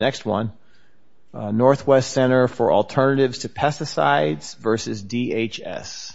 Next one, Northwest Center for Alternatives to Pesticides versus DHS.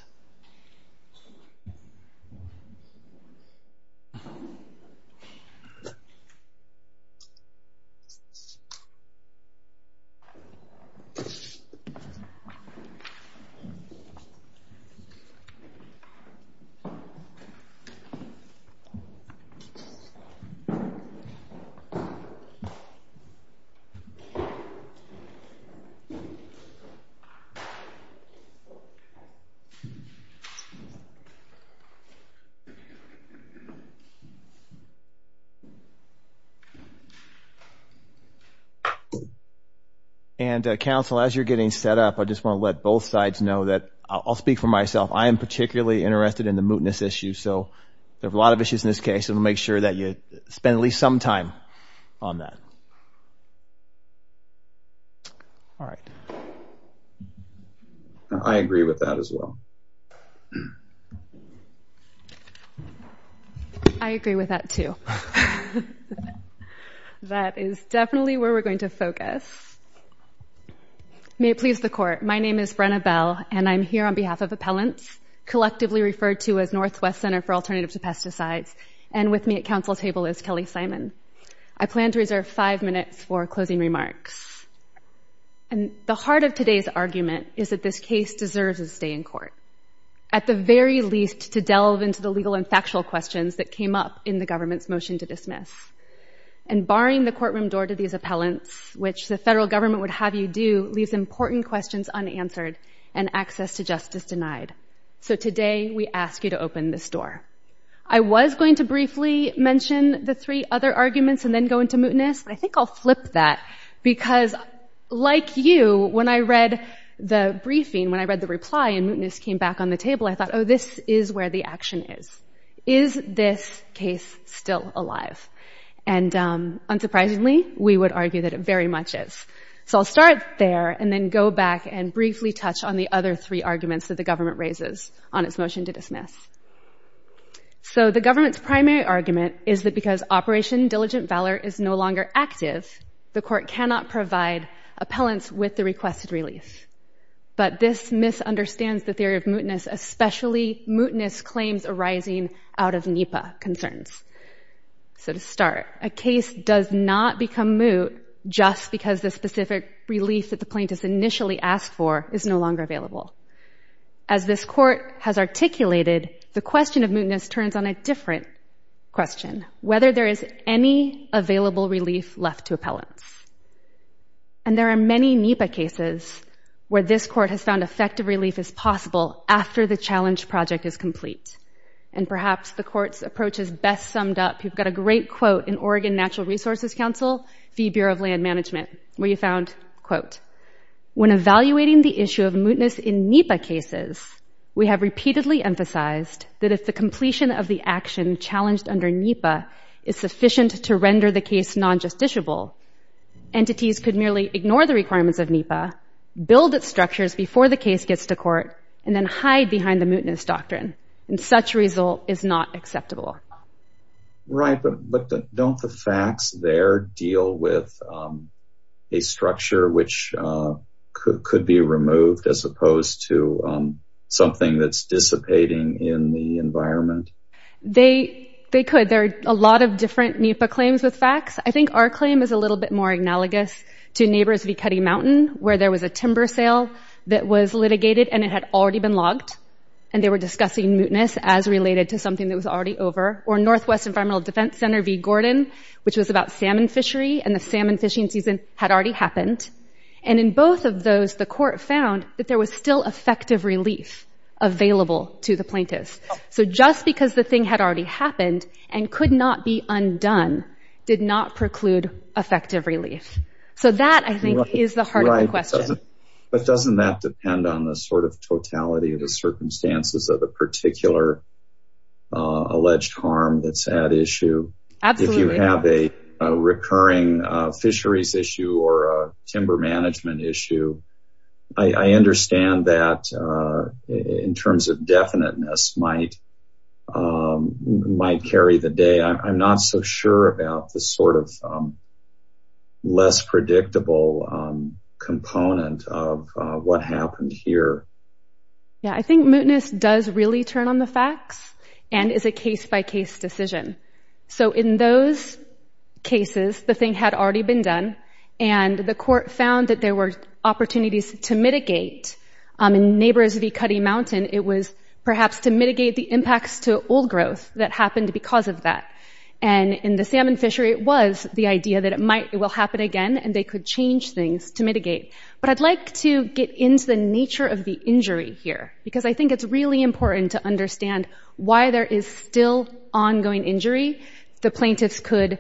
And counsel, as you're getting set up, I just want to let both sides know that I'll speak for myself. I am particularly interested in the mootness issue. So there are a lot of issues in this case. And we'll make sure that you spend at least some time on that. I agree with that as well. I agree with that too. That is definitely where we're going to focus. May it please the court, my name is Brenna Bell. And I'm here on behalf of appellants, collectively referred to as Northwest Center for Alternatives to Pesticides. And with me at counsel's table is Kelly Simon. I plan to reserve five minutes for closing remarks. And the heart of today's argument is that this case deserves a stay in court, at the very least to delve into the legal and factual questions that came up in the government's motion to dismiss. And barring the courtroom door to these appellants, which the federal government would have you do, leaves important questions unanswered and access to justice denied. So today, we ask you to open this door. I was going to briefly mention the three other arguments and then go into mootness. I think I'll flip that. Because like you, when I read the briefing, when I read the reply and mootness came back on the table, I thought, oh, this is where the action is. Is this case still alive? And unsurprisingly, we would argue that it very much is. So I'll start there and then go back and briefly touch on the other three arguments that the government raises on its motion to dismiss. So the government's primary argument is that because Operation Diligent Valor is no longer active, the court cannot provide appellants with the requested release. But this misunderstands the theory of mootness, especially mootness claims arising out of NEPA concerns. So to start, a case does not become moot just because the specific relief that the plaintiff initially asked for is no longer available. As this court has articulated, the question of mootness turns on a different question, whether there is any available relief left to appellants. And there are many NEPA cases where this court has found effective relief is possible after the challenge project is complete. And perhaps the court's approach is best summed up. You've got a great quote in Oregon Natural Resources Council v. Bureau of Land Management, where you found, quote, when evaluating the issue of mootness in NEPA cases, we have repeatedly emphasized that if the completion of the action challenged under NEPA is sufficient to render the case non-justiciable, entities could merely ignore the requirements of NEPA, build its structures before the case gets to court, and then hide behind the mootness doctrine. And such result is not acceptable. Right, but don't the facts there deal with a structure which could be removed as opposed to something that's dissipating in the environment? They could. There are a lot of different NEPA claims with facts. I think our claim is a little bit more analogous to neighbors v. Cutty Mountain, where there was a timber sale that was litigated, and it had already been logged. And they were discussing mootness as related to something that was already over. Or Northwest Environmental Defense Center v. Gordon, which was about salmon fishery, and the salmon fishing season had already happened. And in both of those, the court found that there was still effective relief available to the plaintiffs. So just because the thing had already happened and could not be undone did not preclude effective relief. So that, I think, is the heart of the question. But doesn't that depend on the sort of totality of the circumstances of the particular alleged harm that's at issue? Absolutely. If you have a recurring fisheries issue or a timber management issue, I understand that in terms of definiteness might carry the day. I'm not so sure about the sort of less predictable component of what happened here. Yeah, I think mootness does really turn on the facts and is a case-by-case decision. So in those cases, the thing had already been done. And the court found that there were opportunities to mitigate. In Neighbors v. Cuddy Mountain, it was perhaps to mitigate the impacts to old growth that happened because of that. And in the salmon fishery, it was the idea that it will happen again and they could change things to mitigate. But I'd like to get into the nature of the injury here, because I think it's really important to understand why there is still ongoing injury the plaintiffs could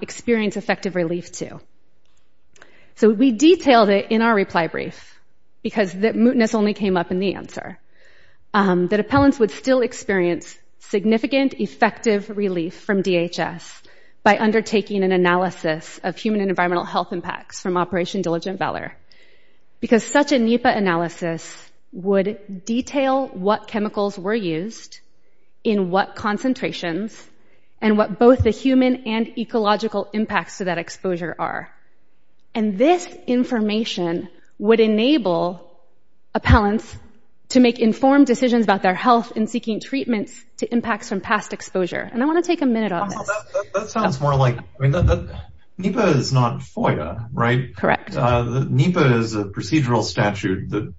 experience effective relief to. So we detailed it in our reply brief because the mootness only came up in the answer, that appellants would still experience significant effective relief from DHS by undertaking an analysis of human and environmental health impacts from Operation Diligent Valor, because such a NEPA analysis would detail what chemicals were used, in what concentrations, and what both the human and ecological impacts to that exposure are. And this information would enable appellants to make informed decisions about their health in seeking treatments to impacts from past exposure. And I want to take a minute on this. That sounds more like, NEPA is not FOIA, right? Correct. NEPA is a procedural statute that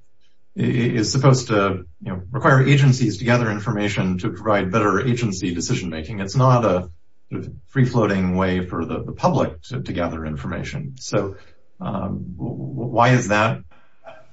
is supposed to require agencies to gather information to provide better agency decision making. It's not a free-floating way for the public to gather information. So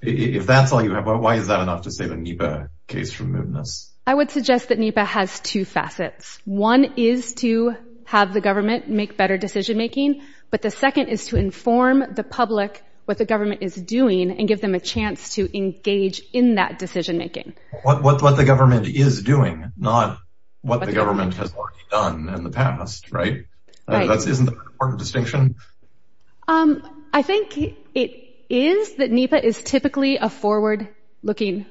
if that's all you have, why is that enough to save a NEPA case from mootness? I would suggest that NEPA has two facets. One is to have the government make better decision making. But the second is to inform the public what the government is doing and give them a chance to engage in that decision making. What the government is doing, not what the government has already done in the past, right? Isn't that an important distinction? I think it is that NEPA is typically a forward-looking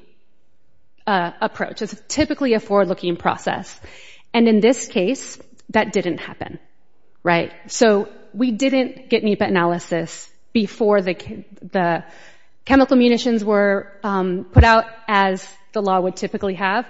approach. It's typically a forward-looking process. And in this case, that didn't happen, right? So we didn't get NEPA analysis before the chemical munitions were put out as the law would typically have.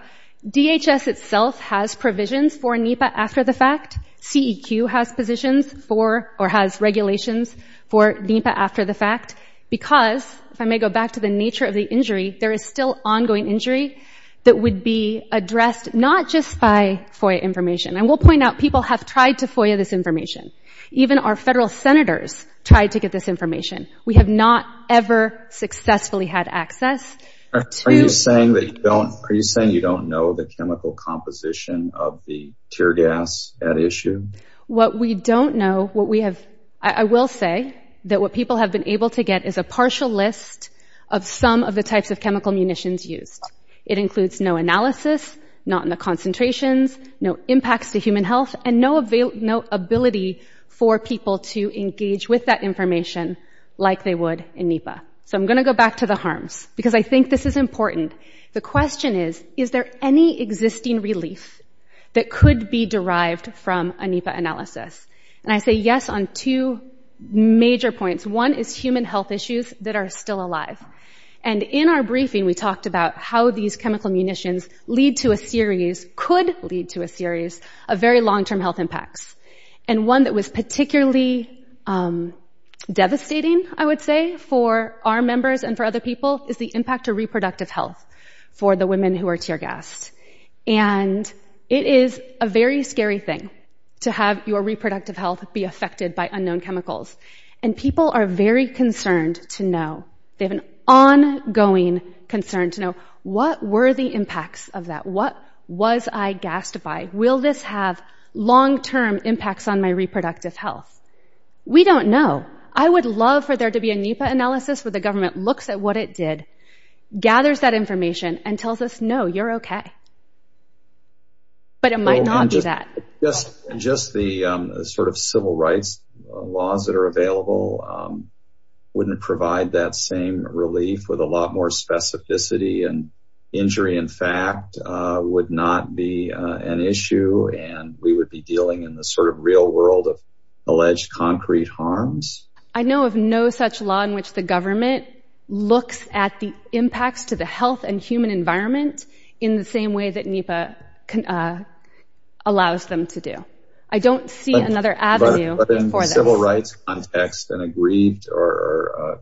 DHS itself has provisions for NEPA after the fact. CEQ has positions for or has regulations for NEPA after the fact. Because, if I may go back to the nature of the injury, there is still ongoing injury that would be addressed not just by FOIA information. And we'll point out, people have tried to FOIA this information. Even our federal senators tried to get this information. We have not ever successfully had access to- Are you saying you don't know the chemical composition of the tear gas at issue? What we don't know, what we have- I will say that what people have been able to get is a partial list of some of the types of chemical munitions used. It includes no analysis, not in the concentrations, no impacts to human health, and no ability for people to engage with that information like they would in NEPA. So I'm going to go back to the harms, because I think this is important. The question is, is there any existing relief that could be derived from a NEPA analysis? And I say yes on two major points. One is human health issues that are still alive. And in our briefing, we talked about how these chemical munitions lead to a series, could lead to a series, of very long-term health impacts. And one that was particularly devastating, I would say, for our members and for other people is the impact to reproductive health for the women who are tear gassed. And it is a very scary thing to have your reproductive health be affected by unknown chemicals. And people are very concerned to know, they have an ongoing concern to know, what were the impacts of that? What was I gassed by? Will this have long-term impacts on my reproductive health? We don't know. I would love for there to be a NEPA analysis where the government looks at what it did, gathers that information, and tells us, no, you're OK. But it might not be that. Just the sort of civil rights laws that are available wouldn't provide that same relief with a lot more specificity. And injury, in fact, would not be an issue. And we would be dealing in the sort of real world of alleged concrete harms. I know of no such law in which the government looks at the impacts to the health and human environment in the same way that NEPA allows them to do. I don't see another avenue for this. But in civil rights context, an aggrieved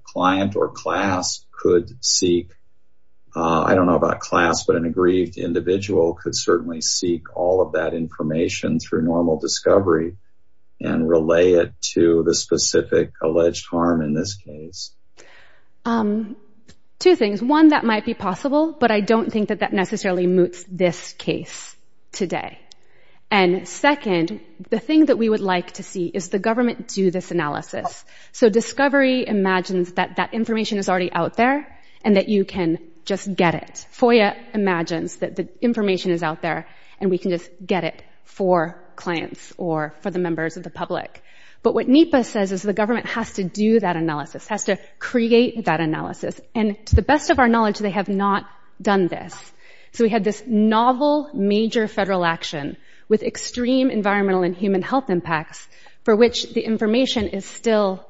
client or class could seek, I don't know about class, but an aggrieved individual could certainly seek all of that information through normal discovery and relay it to the specific alleged harm in this case. Two things. One, that might be possible, but I don't think that that necessarily moots this case today. And second, the thing that we would like to see is the government do this analysis. So discovery imagines that that information is already out there and that you can just get it. FOIA imagines that the information is out there and we can just get it for clients or for the members of the public. But what NEPA says is the government has to do that analysis, has to create that analysis. And to the best of our knowledge, they have not done this. So we had this novel major federal action with extreme environmental and human health impacts for which the information is still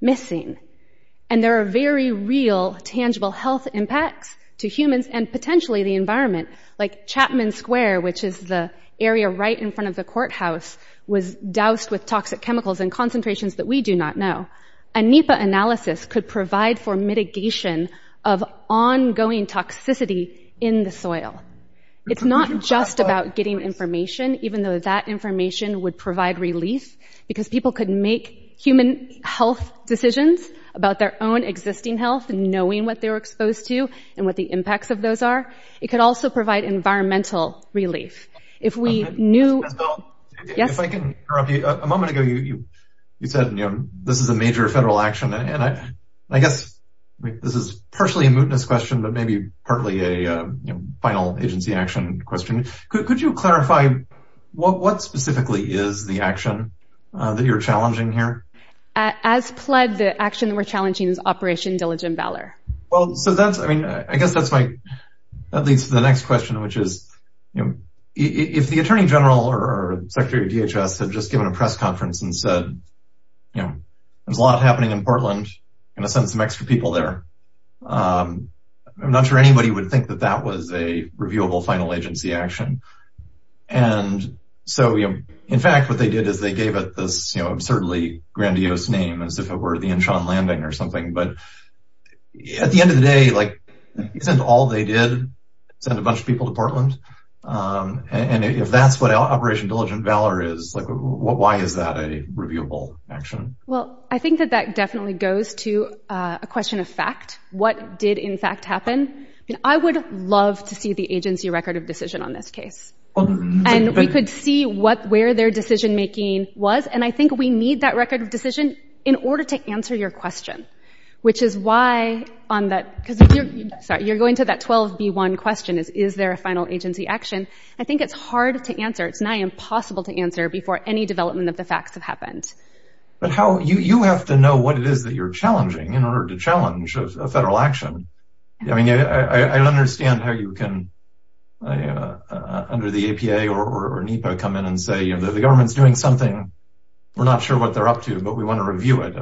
missing. And there are very real, tangible health impacts to humans and potentially the environment, like Chapman Square, which is the area right in front of the courthouse, was doused with toxic chemicals in concentrations that we do not know. A NEPA analysis could provide for mitigation of ongoing toxicity in the soil. It's not just about getting information, even though that information would provide relief, because people could make human health decisions about their own existing health, knowing what they were exposed to and what the impacts of those are. It could also provide environmental relief. If we knew- Ms. Bell, if I can interrupt you, a moment ago you said this is a major federal action. And I guess this is partially a mootness question, but maybe partly a final agency action question. Could you clarify what specifically is the action that you're challenging here? As pled, the action that we're challenging is Operation Diligent Valor. Well, so that's, I mean, I guess that's my, that leads to the next question, which is, if the attorney general or secretary of DHS had just given a press conference and said, there's a lot happening in Portland, gonna send some extra people there. I'm not sure anybody would think that that was a reviewable final agency action. And so, in fact, what they did is they gave it this, absurdly grandiose name as if it were the Inchon Landing or something. But at the end of the day, like, isn't all they did send a bunch of people to Portland? And if that's what Operation Diligent Valor is, like, why is that a reviewable action? Well, I think that that definitely goes to a question of fact. What did in fact happen? I would love to see the agency record of decision on this case. And we could see what, where their decision-making was. And I think we need that record of decision in order to answer your question, which is why on that, because if you're, sorry, you're going to that 12B1 question is, is there a final agency action? I think it's hard to answer. It's nigh impossible to answer before any development of the facts have happened. But how, you have to know what it is that you're challenging in order to challenge a federal action. I mean, I understand how you can under the APA or NEPA come in and say, the government's doing something. We're not sure what they're up to, but we want to review it.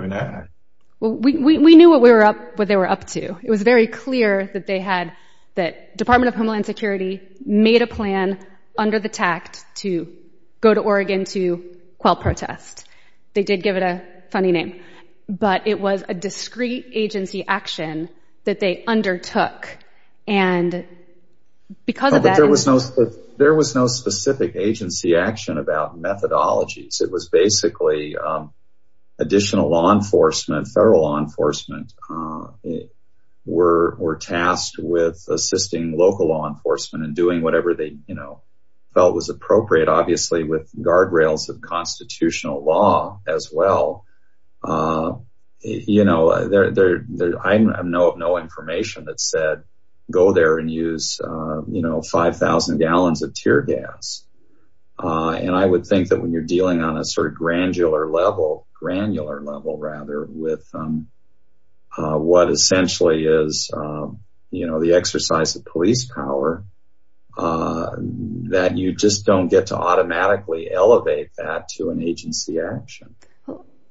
Well, we knew what we were up, what they were up to. It was very clear that they had, that Department of Homeland Security made a plan under the tact to go to Oregon to quell protest. They did give it a funny name, but it was a discrete agency action that they undertook. And because of that- But there was no specific agency action about methodologies. It was basically additional law enforcement, federal law enforcement were tasked with assisting local law enforcement and doing whatever they felt was appropriate, obviously with guardrails of constitutional law as well. You know, I have no information that said, go there and use, you know, 5,000 gallons of tear gas. And I would think that when you're dealing on a sort of granular level, granular level rather, with what essentially is, you know, the exercise of police power, that you just don't get to automatically elevate that to an agency action.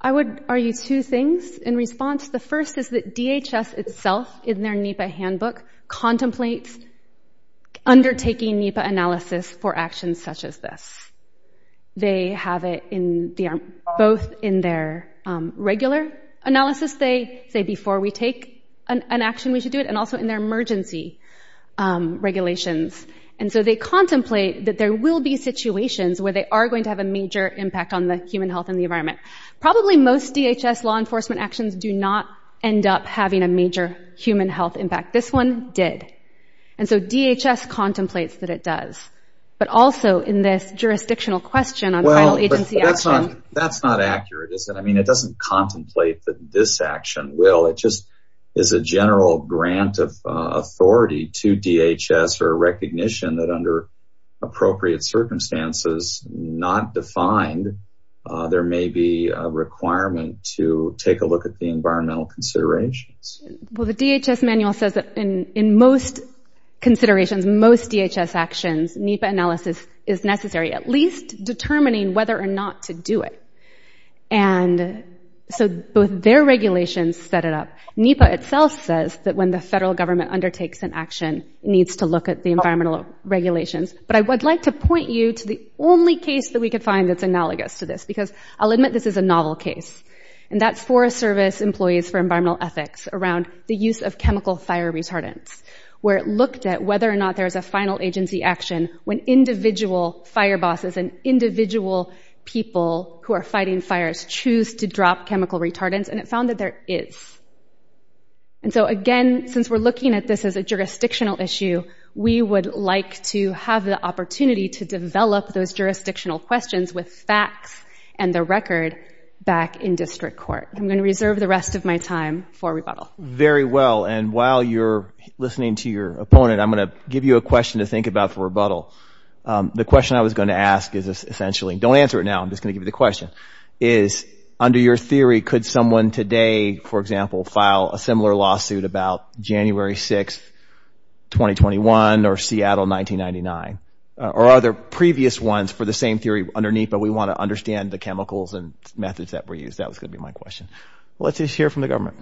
I would argue two things in response. The first is that DHS itself, in their NEPA handbook, contemplates undertaking NEPA analysis for actions such as this. They have it both in their regular analysis, they say before we take an action, we should do it, and also in their emergency regulations. And so they contemplate that there will be situations where they are going to have a major impact on the human health and the environment. Probably most DHS law enforcement actions do not end up having a major human health impact. This one did. And so DHS contemplates that it does. But also in this jurisdictional question on final agency action. That's not accurate, is it? I mean, it doesn't contemplate that this action will. It just is a general grant of authority to DHS for recognition that under appropriate circumstances, not defined, there may be a requirement to take a look at the environmental considerations. Well, the DHS manual says that in most considerations, most DHS actions, NEPA analysis is necessary, at least determining whether or not to do it. And so both their regulations set it up. NEPA itself says that when the federal government undertakes an action, it needs to look at the environmental regulations. But I would like to point you to the only case that we could find that's analogous to this. Because I'll admit, this is a novel case. And that's Forest Service Employees for Environmental Ethics around the use of chemical fire retardants, where it looked at whether or not there is a final agency action when individual fire bosses and individual people who are fighting fires choose to drop chemical retardants. And it found that there is. And so again, since we're looking at this as a jurisdictional issue, we would like to have the opportunity to develop those jurisdictional questions with facts and the record back in district court. I'm going to reserve the rest of my time for rebuttal. Very well. And while you're listening to your opponent, I'm going to give you a question to think about for rebuttal. The question I was going to ask is essentially, don't answer it now, I'm just going to give you the question, is under your theory, could someone today, for example, file a similar lawsuit about January 6th, 2021, or Seattle 1999? Or are there previous ones for the same theory underneath, but we want to understand the chemicals and methods that were used? That was going to be my question. Let's just hear from the government.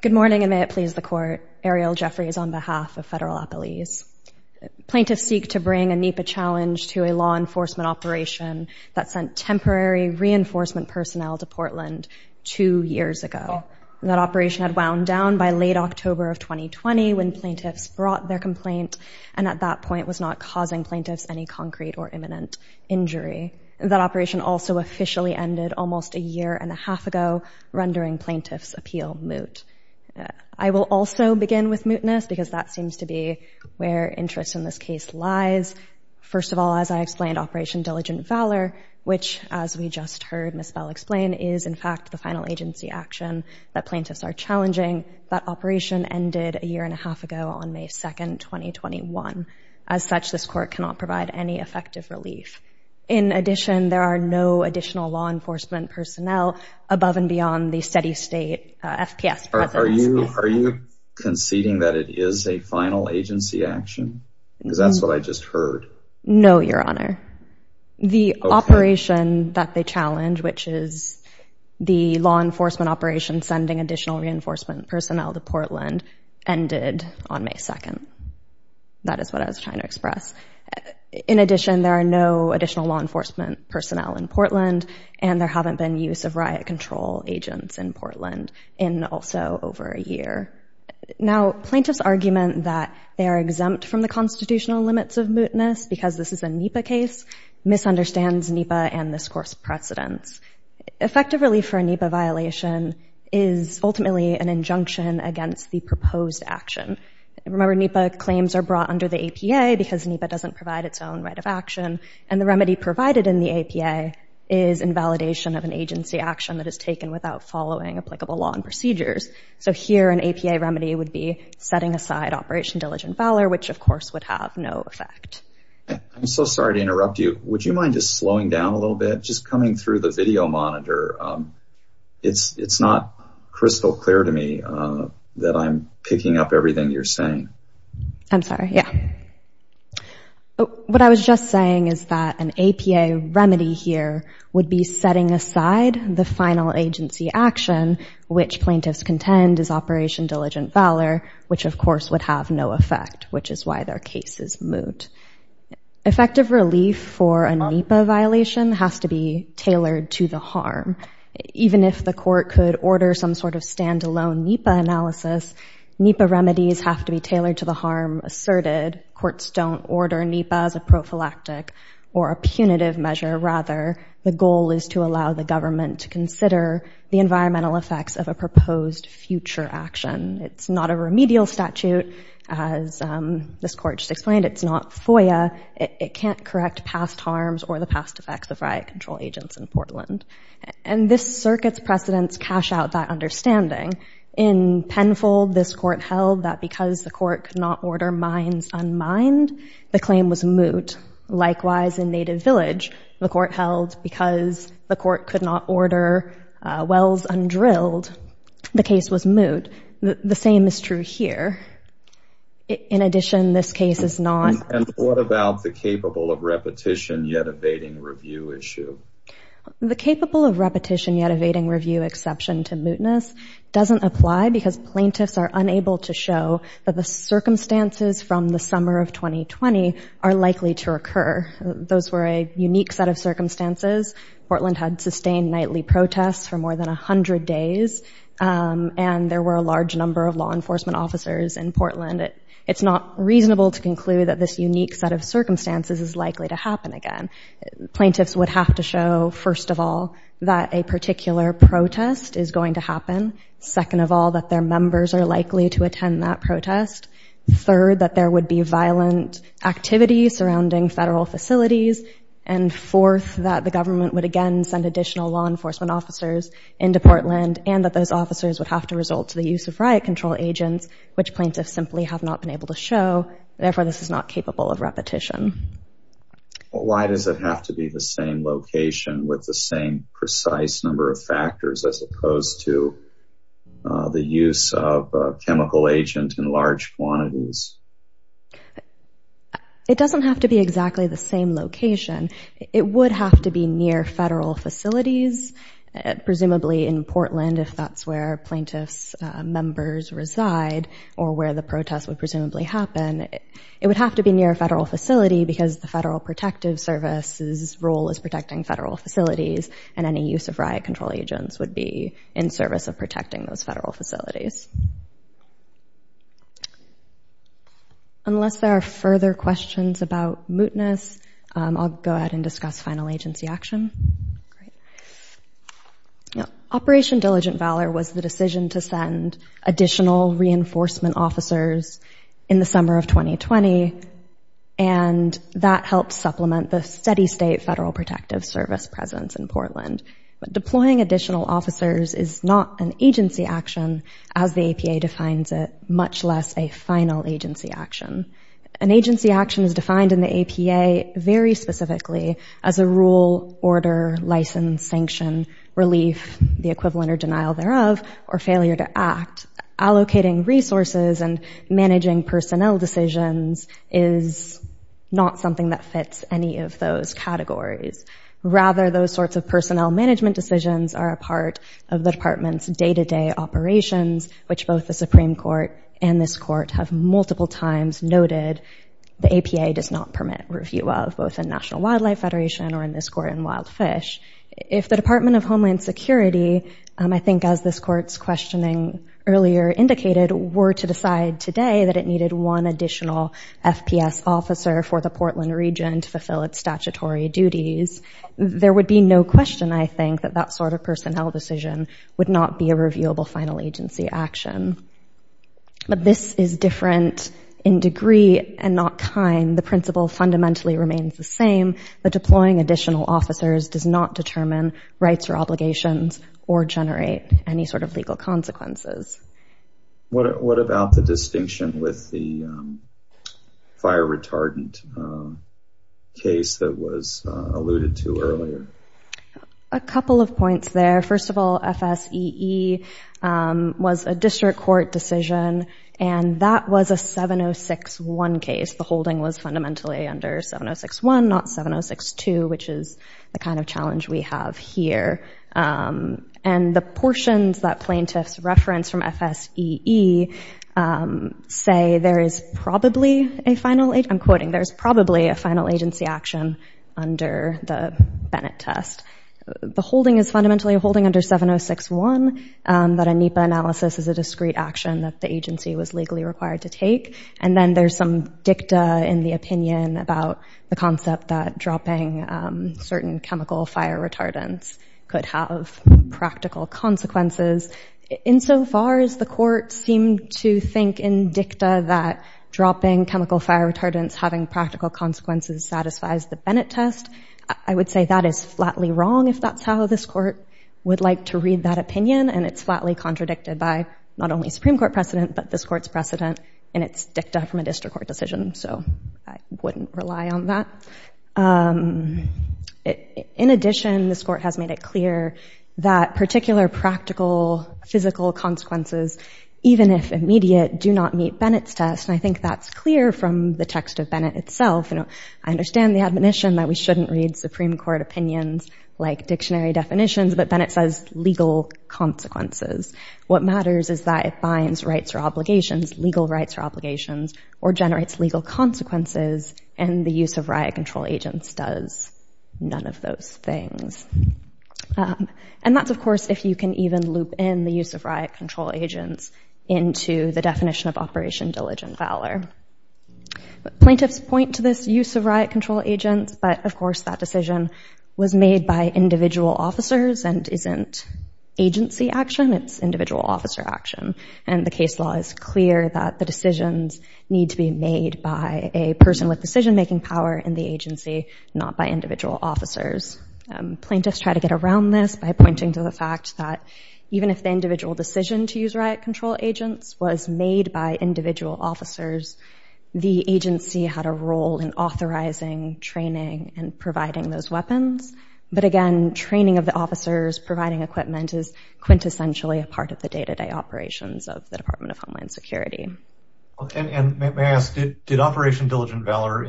Good morning, and may it please the court. Ariel Jeffries on behalf of Federal Appellees. Plaintiffs seek to bring a NEPA challenge to a law enforcement operation that sent temporary reinforcement personnel to Portland two years ago. That operation had wound down by late October of 2020 when plaintiffs brought their complaint, and at that point was not causing plaintiffs any concrete or imminent injury. That operation also officially ended almost a year and a half ago, rendering plaintiffs' appeal moot. I will also begin with mootness, because that is where interest in this case lies. First of all, as I explained, Operation Diligent Valor, which, as we just heard Ms. Bell explain, is, in fact, the final agency action that plaintiffs are challenging. That operation ended a year and a half ago on May 2nd, 2021. As such, this court cannot provide any effective relief. In addition, there are no additional law enforcement personnel above and beyond the steady state FPS. Are you conceding that it is a final agency action? Because that's what I just heard. No, Your Honor. The operation that they challenge, which is the law enforcement operation sending additional reinforcement personnel to Portland, ended on May 2nd. That is what I was trying to express. In addition, there are no additional law enforcement personnel in Portland, and there haven't been use of riot control agents in Portland. Also, over a year. Now, plaintiffs' argument that they are exempt from the constitutional limits of mootness because this is a NEPA case misunderstands NEPA and this court's precedents. Effective relief for a NEPA violation is ultimately an injunction against the proposed action. Remember, NEPA claims are brought under the APA because NEPA doesn't provide its own right of action. And the remedy provided in the APA is invalidation of an agency action that is taken without following applicable law and procedures. So here, an APA remedy would be setting aside Operation Diligent Valor, which of course would have no effect. I'm so sorry to interrupt you. Would you mind just slowing down a little bit? Just coming through the video monitor, it's not crystal clear to me that I'm picking up everything you're saying. I'm sorry, yeah. What I was just saying is that an APA remedy here would be setting aside the final agency action, which plaintiffs contend is Operation Diligent Valor, which of course would have no effect, which is why their case is moot. Effective relief for a NEPA violation has to be tailored to the harm. Even if the court could order some sort of standalone NEPA analysis, NEPA remedies have to be tailored to the harm asserted. Courts don't order NEPA as a prophylactic or a punitive measure. Rather, the goal is to allow the government to consider the environmental effects of a proposed future action. It's not a remedial statute, as this court just explained. It's not FOIA. It can't correct past harms or the past effects of riot control agents in Portland. And this circuit's precedents cash out that understanding. In Penfold, this court held that because the court could not order mines unmined, the claim was moot, likewise in Native Village, the court held because the court could not order wells undrilled, the case was moot. The same is true here. In addition, this case is not. And what about the capable of repetition yet evading review issue? The capable of repetition yet evading review exception to mootness doesn't apply because plaintiffs are unable to show that the circumstances from the summer of 2020 are likely to occur. Those were a unique set of circumstances. Portland had sustained nightly protests for more than 100 days, and there were a large number of law enforcement officers in Portland. It's not reasonable to conclude that this unique set of circumstances is likely to happen again. Plaintiffs would have to show, first of all, that a particular protest is going to happen, second of all, that their members are likely to attend that protest, third, that there would be activities surrounding federal facilities, and fourth, that the government would again send additional law enforcement officers into Portland, and that those officers would have to result to the use of riot control agents, which plaintiffs simply have not been able to show. Therefore, this is not capable of repetition. Why does it have to be the same location with the same precise number of factors as opposed to the use of a chemical agent in large quantities? It doesn't have to be exactly the same location. It would have to be near federal facilities, presumably in Portland if that's where plaintiffs' members reside, or where the protest would presumably happen. It would have to be near a federal facility because the Federal Protective Service's role is protecting federal facilities, and any use of riot control agents would be in service of protecting those federal facilities. Unless there are further questions about mootness, I'll go ahead and discuss final agency action. Now, Operation Diligent Valor was the decision to send additional reinforcement officers in the summer of 2020, and that helped supplement the steady state Federal Protective Service presence in Portland. But deploying additional officers is not an agency action as the APA defines it, much less a final agency action. An agency action is defined in the APA very specifically as a rule, order, license, sanction, relief, the equivalent or denial thereof, or failure to act. Allocating resources and managing personnel decisions is not something that fits any of those categories. Rather, those sorts of personnel management decisions are a part of the department's day-to-day operations, which both the Supreme Court and this court have multiple times noted the APA does not permit review of, both in National Wildlife Federation or in this court in Wild Fish. If the Department of Homeland Security, I think as this court's questioning earlier indicated, were to decide today that it needed one additional FPS officer for the Portland region to fulfill its statutory duties, there would be no question, I think, that that sort of personnel decision would not be a reviewable final agency action. But this is different in degree and not kind. The principle fundamentally remains the same. But deploying additional officers does not determine rights or obligations or generate any sort of legal consequences. What about the distinction with the fire retardant case that was alluded to earlier? A couple of points there. First of all, FSEE was a district court decision. And that was a 706-1 case. The holding was fundamentally under 706-1, not 706-2, which is the kind of challenge we have here. And the portions that plaintiffs reference from FSEE say there is probably a final, I'm under the Bennett test. The holding is fundamentally a holding under 706-1, that a NEPA analysis is a discrete action that the agency was legally required to take. And then there's some dicta in the opinion about the concept that dropping certain chemical fire retardants could have practical consequences. Insofar as the court seemed to think in dicta that dropping chemical fire retardants having practical consequences satisfies the Bennett test, I would say that is flatly wrong, if that's how this court would like to read that opinion. And it's flatly contradicted by not only Supreme Court precedent, but this court's precedent in its dicta from a district court decision. So I wouldn't rely on that. In addition, this court has made it clear that particular practical physical consequences, even if immediate, do not meet Bennett's test. And I think that's clear from the text of Bennett. I understand the admonition that we shouldn't read Supreme Court opinions like dictionary definitions, but Bennett says legal consequences. What matters is that it binds rights or obligations, legal rights or obligations, or generates legal consequences. And the use of riot control agents does none of those things. And that's, of course, if you can even loop in the use of riot control agents into the definition of Operation Diligent Valor. But plaintiffs point to this use of riot control agents. But of course, that decision was made by individual officers and isn't agency action. It's individual officer action. And the case law is clear that the decisions need to be made by a person with decision-making power in the agency, not by individual officers. Plaintiffs try to get around this by pointing to the fact that even if the individual decision to use riot control agents was made by individual officers, the agency had a role in authorizing, training, and providing those weapons. But again, training of the officers, providing equipment is quintessentially a part of the day-to-day operations of the Department of Homeland Security. And may I ask, did Operation Diligent Valor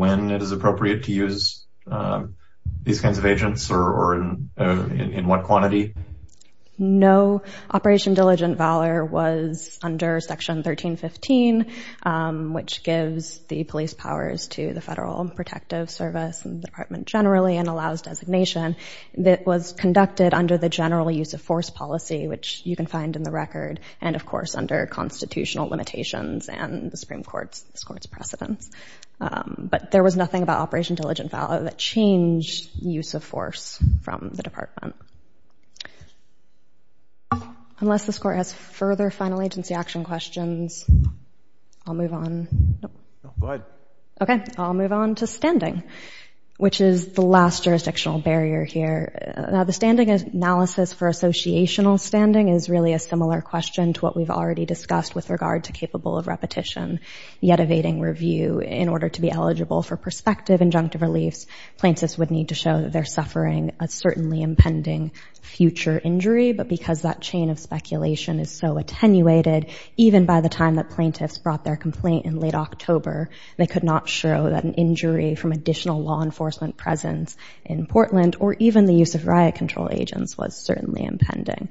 when it is appropriate to use these kinds of agents or in what quantity? No. Operation Diligent Valor was under Section 1315, which gives the police powers to the Federal Protective Service and the Department generally and allows designation. That was conducted under the general use of force policy, which you can find in the record, and of course, under constitutional limitations and the Supreme Court's precedents. But there was nothing about Operation Diligent Valor that changed use of force from the department. Unless this court has further final agency action questions, I'll move on. Go ahead. OK, I'll move on to standing, which is the last jurisdictional barrier here. Now, the standing analysis for associational standing is really a similar question to what we've already discussed with regard to capable of repetition, yet evading review in order to be eligible for perspective injunctive reliefs, plaintiffs would need to show that they're suffering a certainly impending future injury. But because that chain of speculation is so attenuated, even by the time that plaintiffs brought their complaint in late October, they could not show that an injury from additional law enforcement presence in Portland or even the use of riot control agents was certainly impending.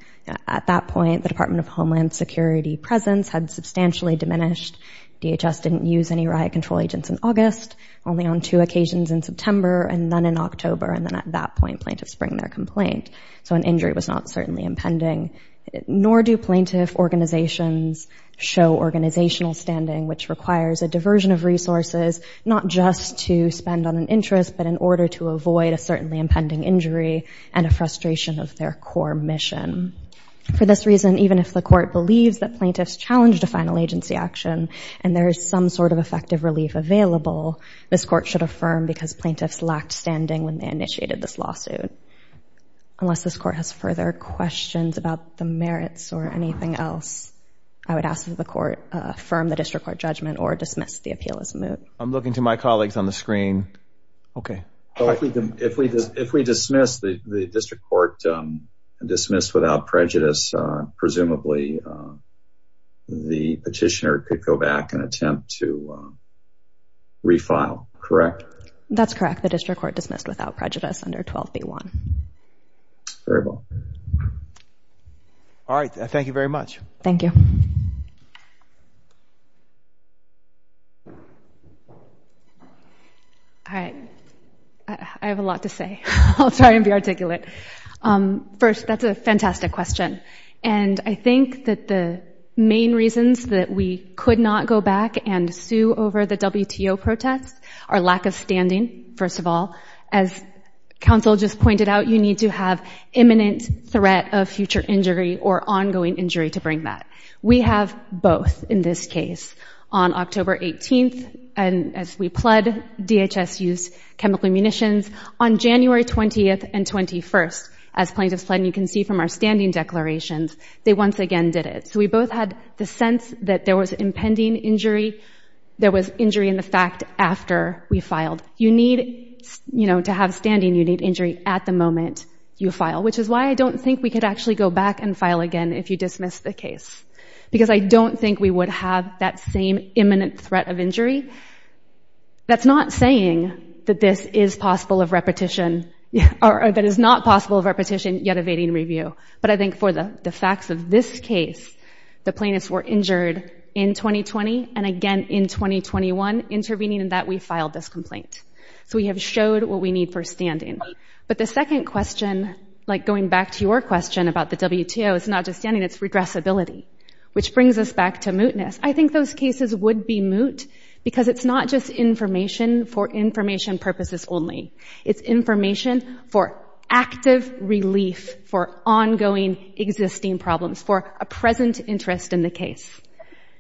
At that point, the Department of Homeland Security presence had substantially diminished. DHS didn't use any riot control agents in August. Only on two occasions in September and then in October. And then at that point, plaintiffs bring their complaint. So an injury was not certainly impending. Nor do plaintiff organizations show organizational standing, which requires a diversion of resources, not just to spend on an interest, but in order to avoid a certainly impending injury and a frustration of their core mission. For this reason, even if the court believes that plaintiffs challenged a final agency action and there is some sort of effective relief available, this court should affirm because plaintiffs lacked standing when they initiated this lawsuit. Unless this court has further questions about the merits or anything else, I would ask that the court affirm the district court judgment or dismiss the appeal as moot. I'm looking to my colleagues on the screen. OK. If we dismiss the district court and dismiss without prejudice, presumably the petitioner could go back and attempt to refile, correct? That's correct. The district court dismissed without prejudice under 12B1. Very well. All right, thank you very much. Thank you. All right, I have a lot to say. I'll try and be articulate. First, that's a fantastic question. And I think that the main reasons that we could not go back and sue over the WTO protests are lack of standing, first of all. As counsel just pointed out, you need to have imminent threat of future injury or ongoing injury to bring that. We have both in this case. On October 18, as we pled, DHS used chemical munitions. On January 20 and 21, as plaintiffs pled, and you can see from our standing declarations, they once again did it. So we both had the sense that there was impending injury. There was injury in the fact after we filed. You need to have standing. You need injury at the moment you file, which is why I don't think we could actually go back and file again if you dismiss the case. Because I don't think we would have that same imminent threat of injury. That's not saying that this is possible of repetition, or that it's not possible of repetition, yet evading review. But I think for the facts of this case, the plaintiffs were injured in 2020, and again in 2021, intervening in that we filed this complaint. So we have showed what we need for standing. But the second question, like going back to your question about the WTO, it's not just standing, it's redressability, which brings us back to mootness. I think those cases would be moot, because it's not just information for information purposes only. It's information for active relief for ongoing existing problems, for a present interest in the case.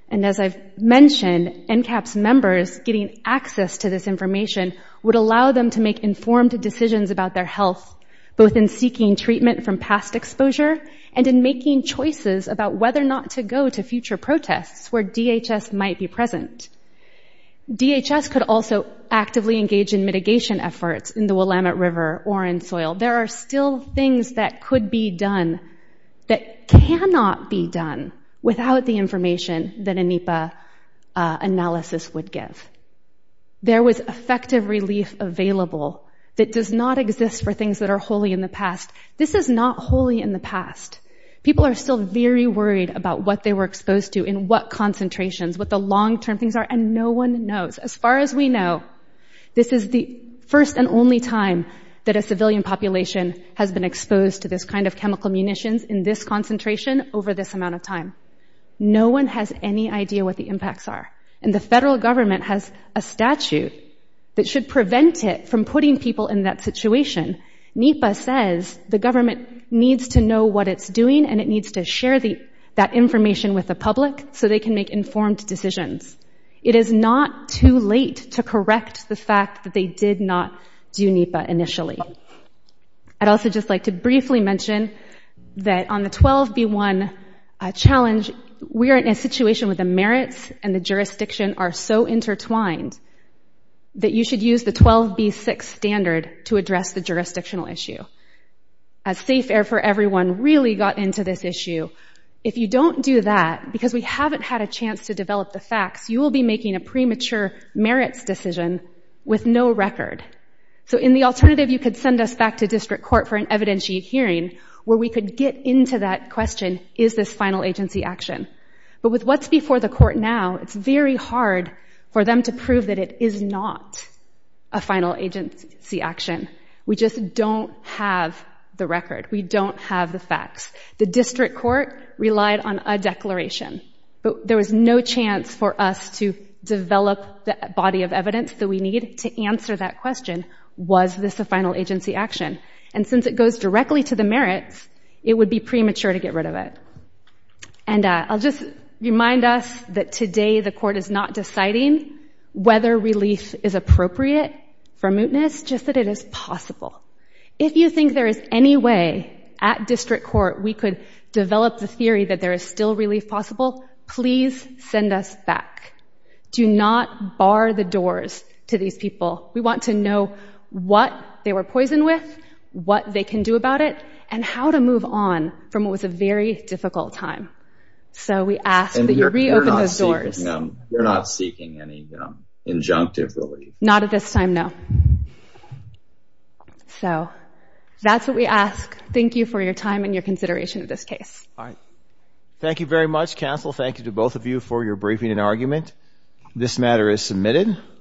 And as I've mentioned, NCAP's members getting access to this information would allow them to make informed decisions about their health, both in seeking treatment from past exposure, and in making choices about whether or not to go to future protests where DHS might be present. DHS could also actively engage in mitigation efforts in the Willamette River or in soil. There are still things that could be done, that cannot be done, without the information that a NEPA analysis would give. There was effective relief available that does not exist for things that are wholly in the past. This is not wholly in the past. People are still very worried about what they were exposed to, in what concentrations, what the long-term things are. And no one knows. As far as we know, this is the first and only time that a civilian population has been exposed to this kind of chemical munitions in this concentration over this amount of time. No one has any idea what the impacts are. And the federal government has a statute that should prevent it from putting people in that situation. NEPA says the government needs to know what it's doing, and it needs to share that information with the public so they can make informed decisions. It is not too late to correct the fact that they did not do NEPA initially. I'd also just like to briefly mention that on the 12b1 challenge, we are in a situation where the merits and the jurisdiction are so intertwined that you should use the 12b6 standard to address the jurisdictional issue. As Safe Air for Everyone really got into this issue, if you don't do that, because we haven't had a chance to develop the facts, you will be making a premature merits decision with no record. So in the alternative, you could send us back to district court for an evidentiary hearing where we could get into that question, is this final agency action? But with what's before the court now, it's very hard for them to prove that it is not a final agency action. We just don't have the record. We don't have the facts. The district court relied on a declaration, but there was no chance for us to develop the body of evidence that we need to answer that question, was this a final agency action? And since it goes directly to the merits, it would be premature to get rid of it. And I'll just remind us that today the court is not deciding whether relief is appropriate for mootness, just that it is possible. If you think there is any way at district court we could develop the theory that there is still relief possible, please send us back. Do not bar the doors to these people. We want to know what they were poisoned with, what they can do about it, and how to move on from what was a very difficult time. So we ask that you reopen those doors. We're not seeking any injunctive relief. Not at this time, no. So that's what we ask. Thank you for your time and your consideration of this case. Thank you very much, counsel. Thank you to both of you for your briefing and argument. This matter is submitted.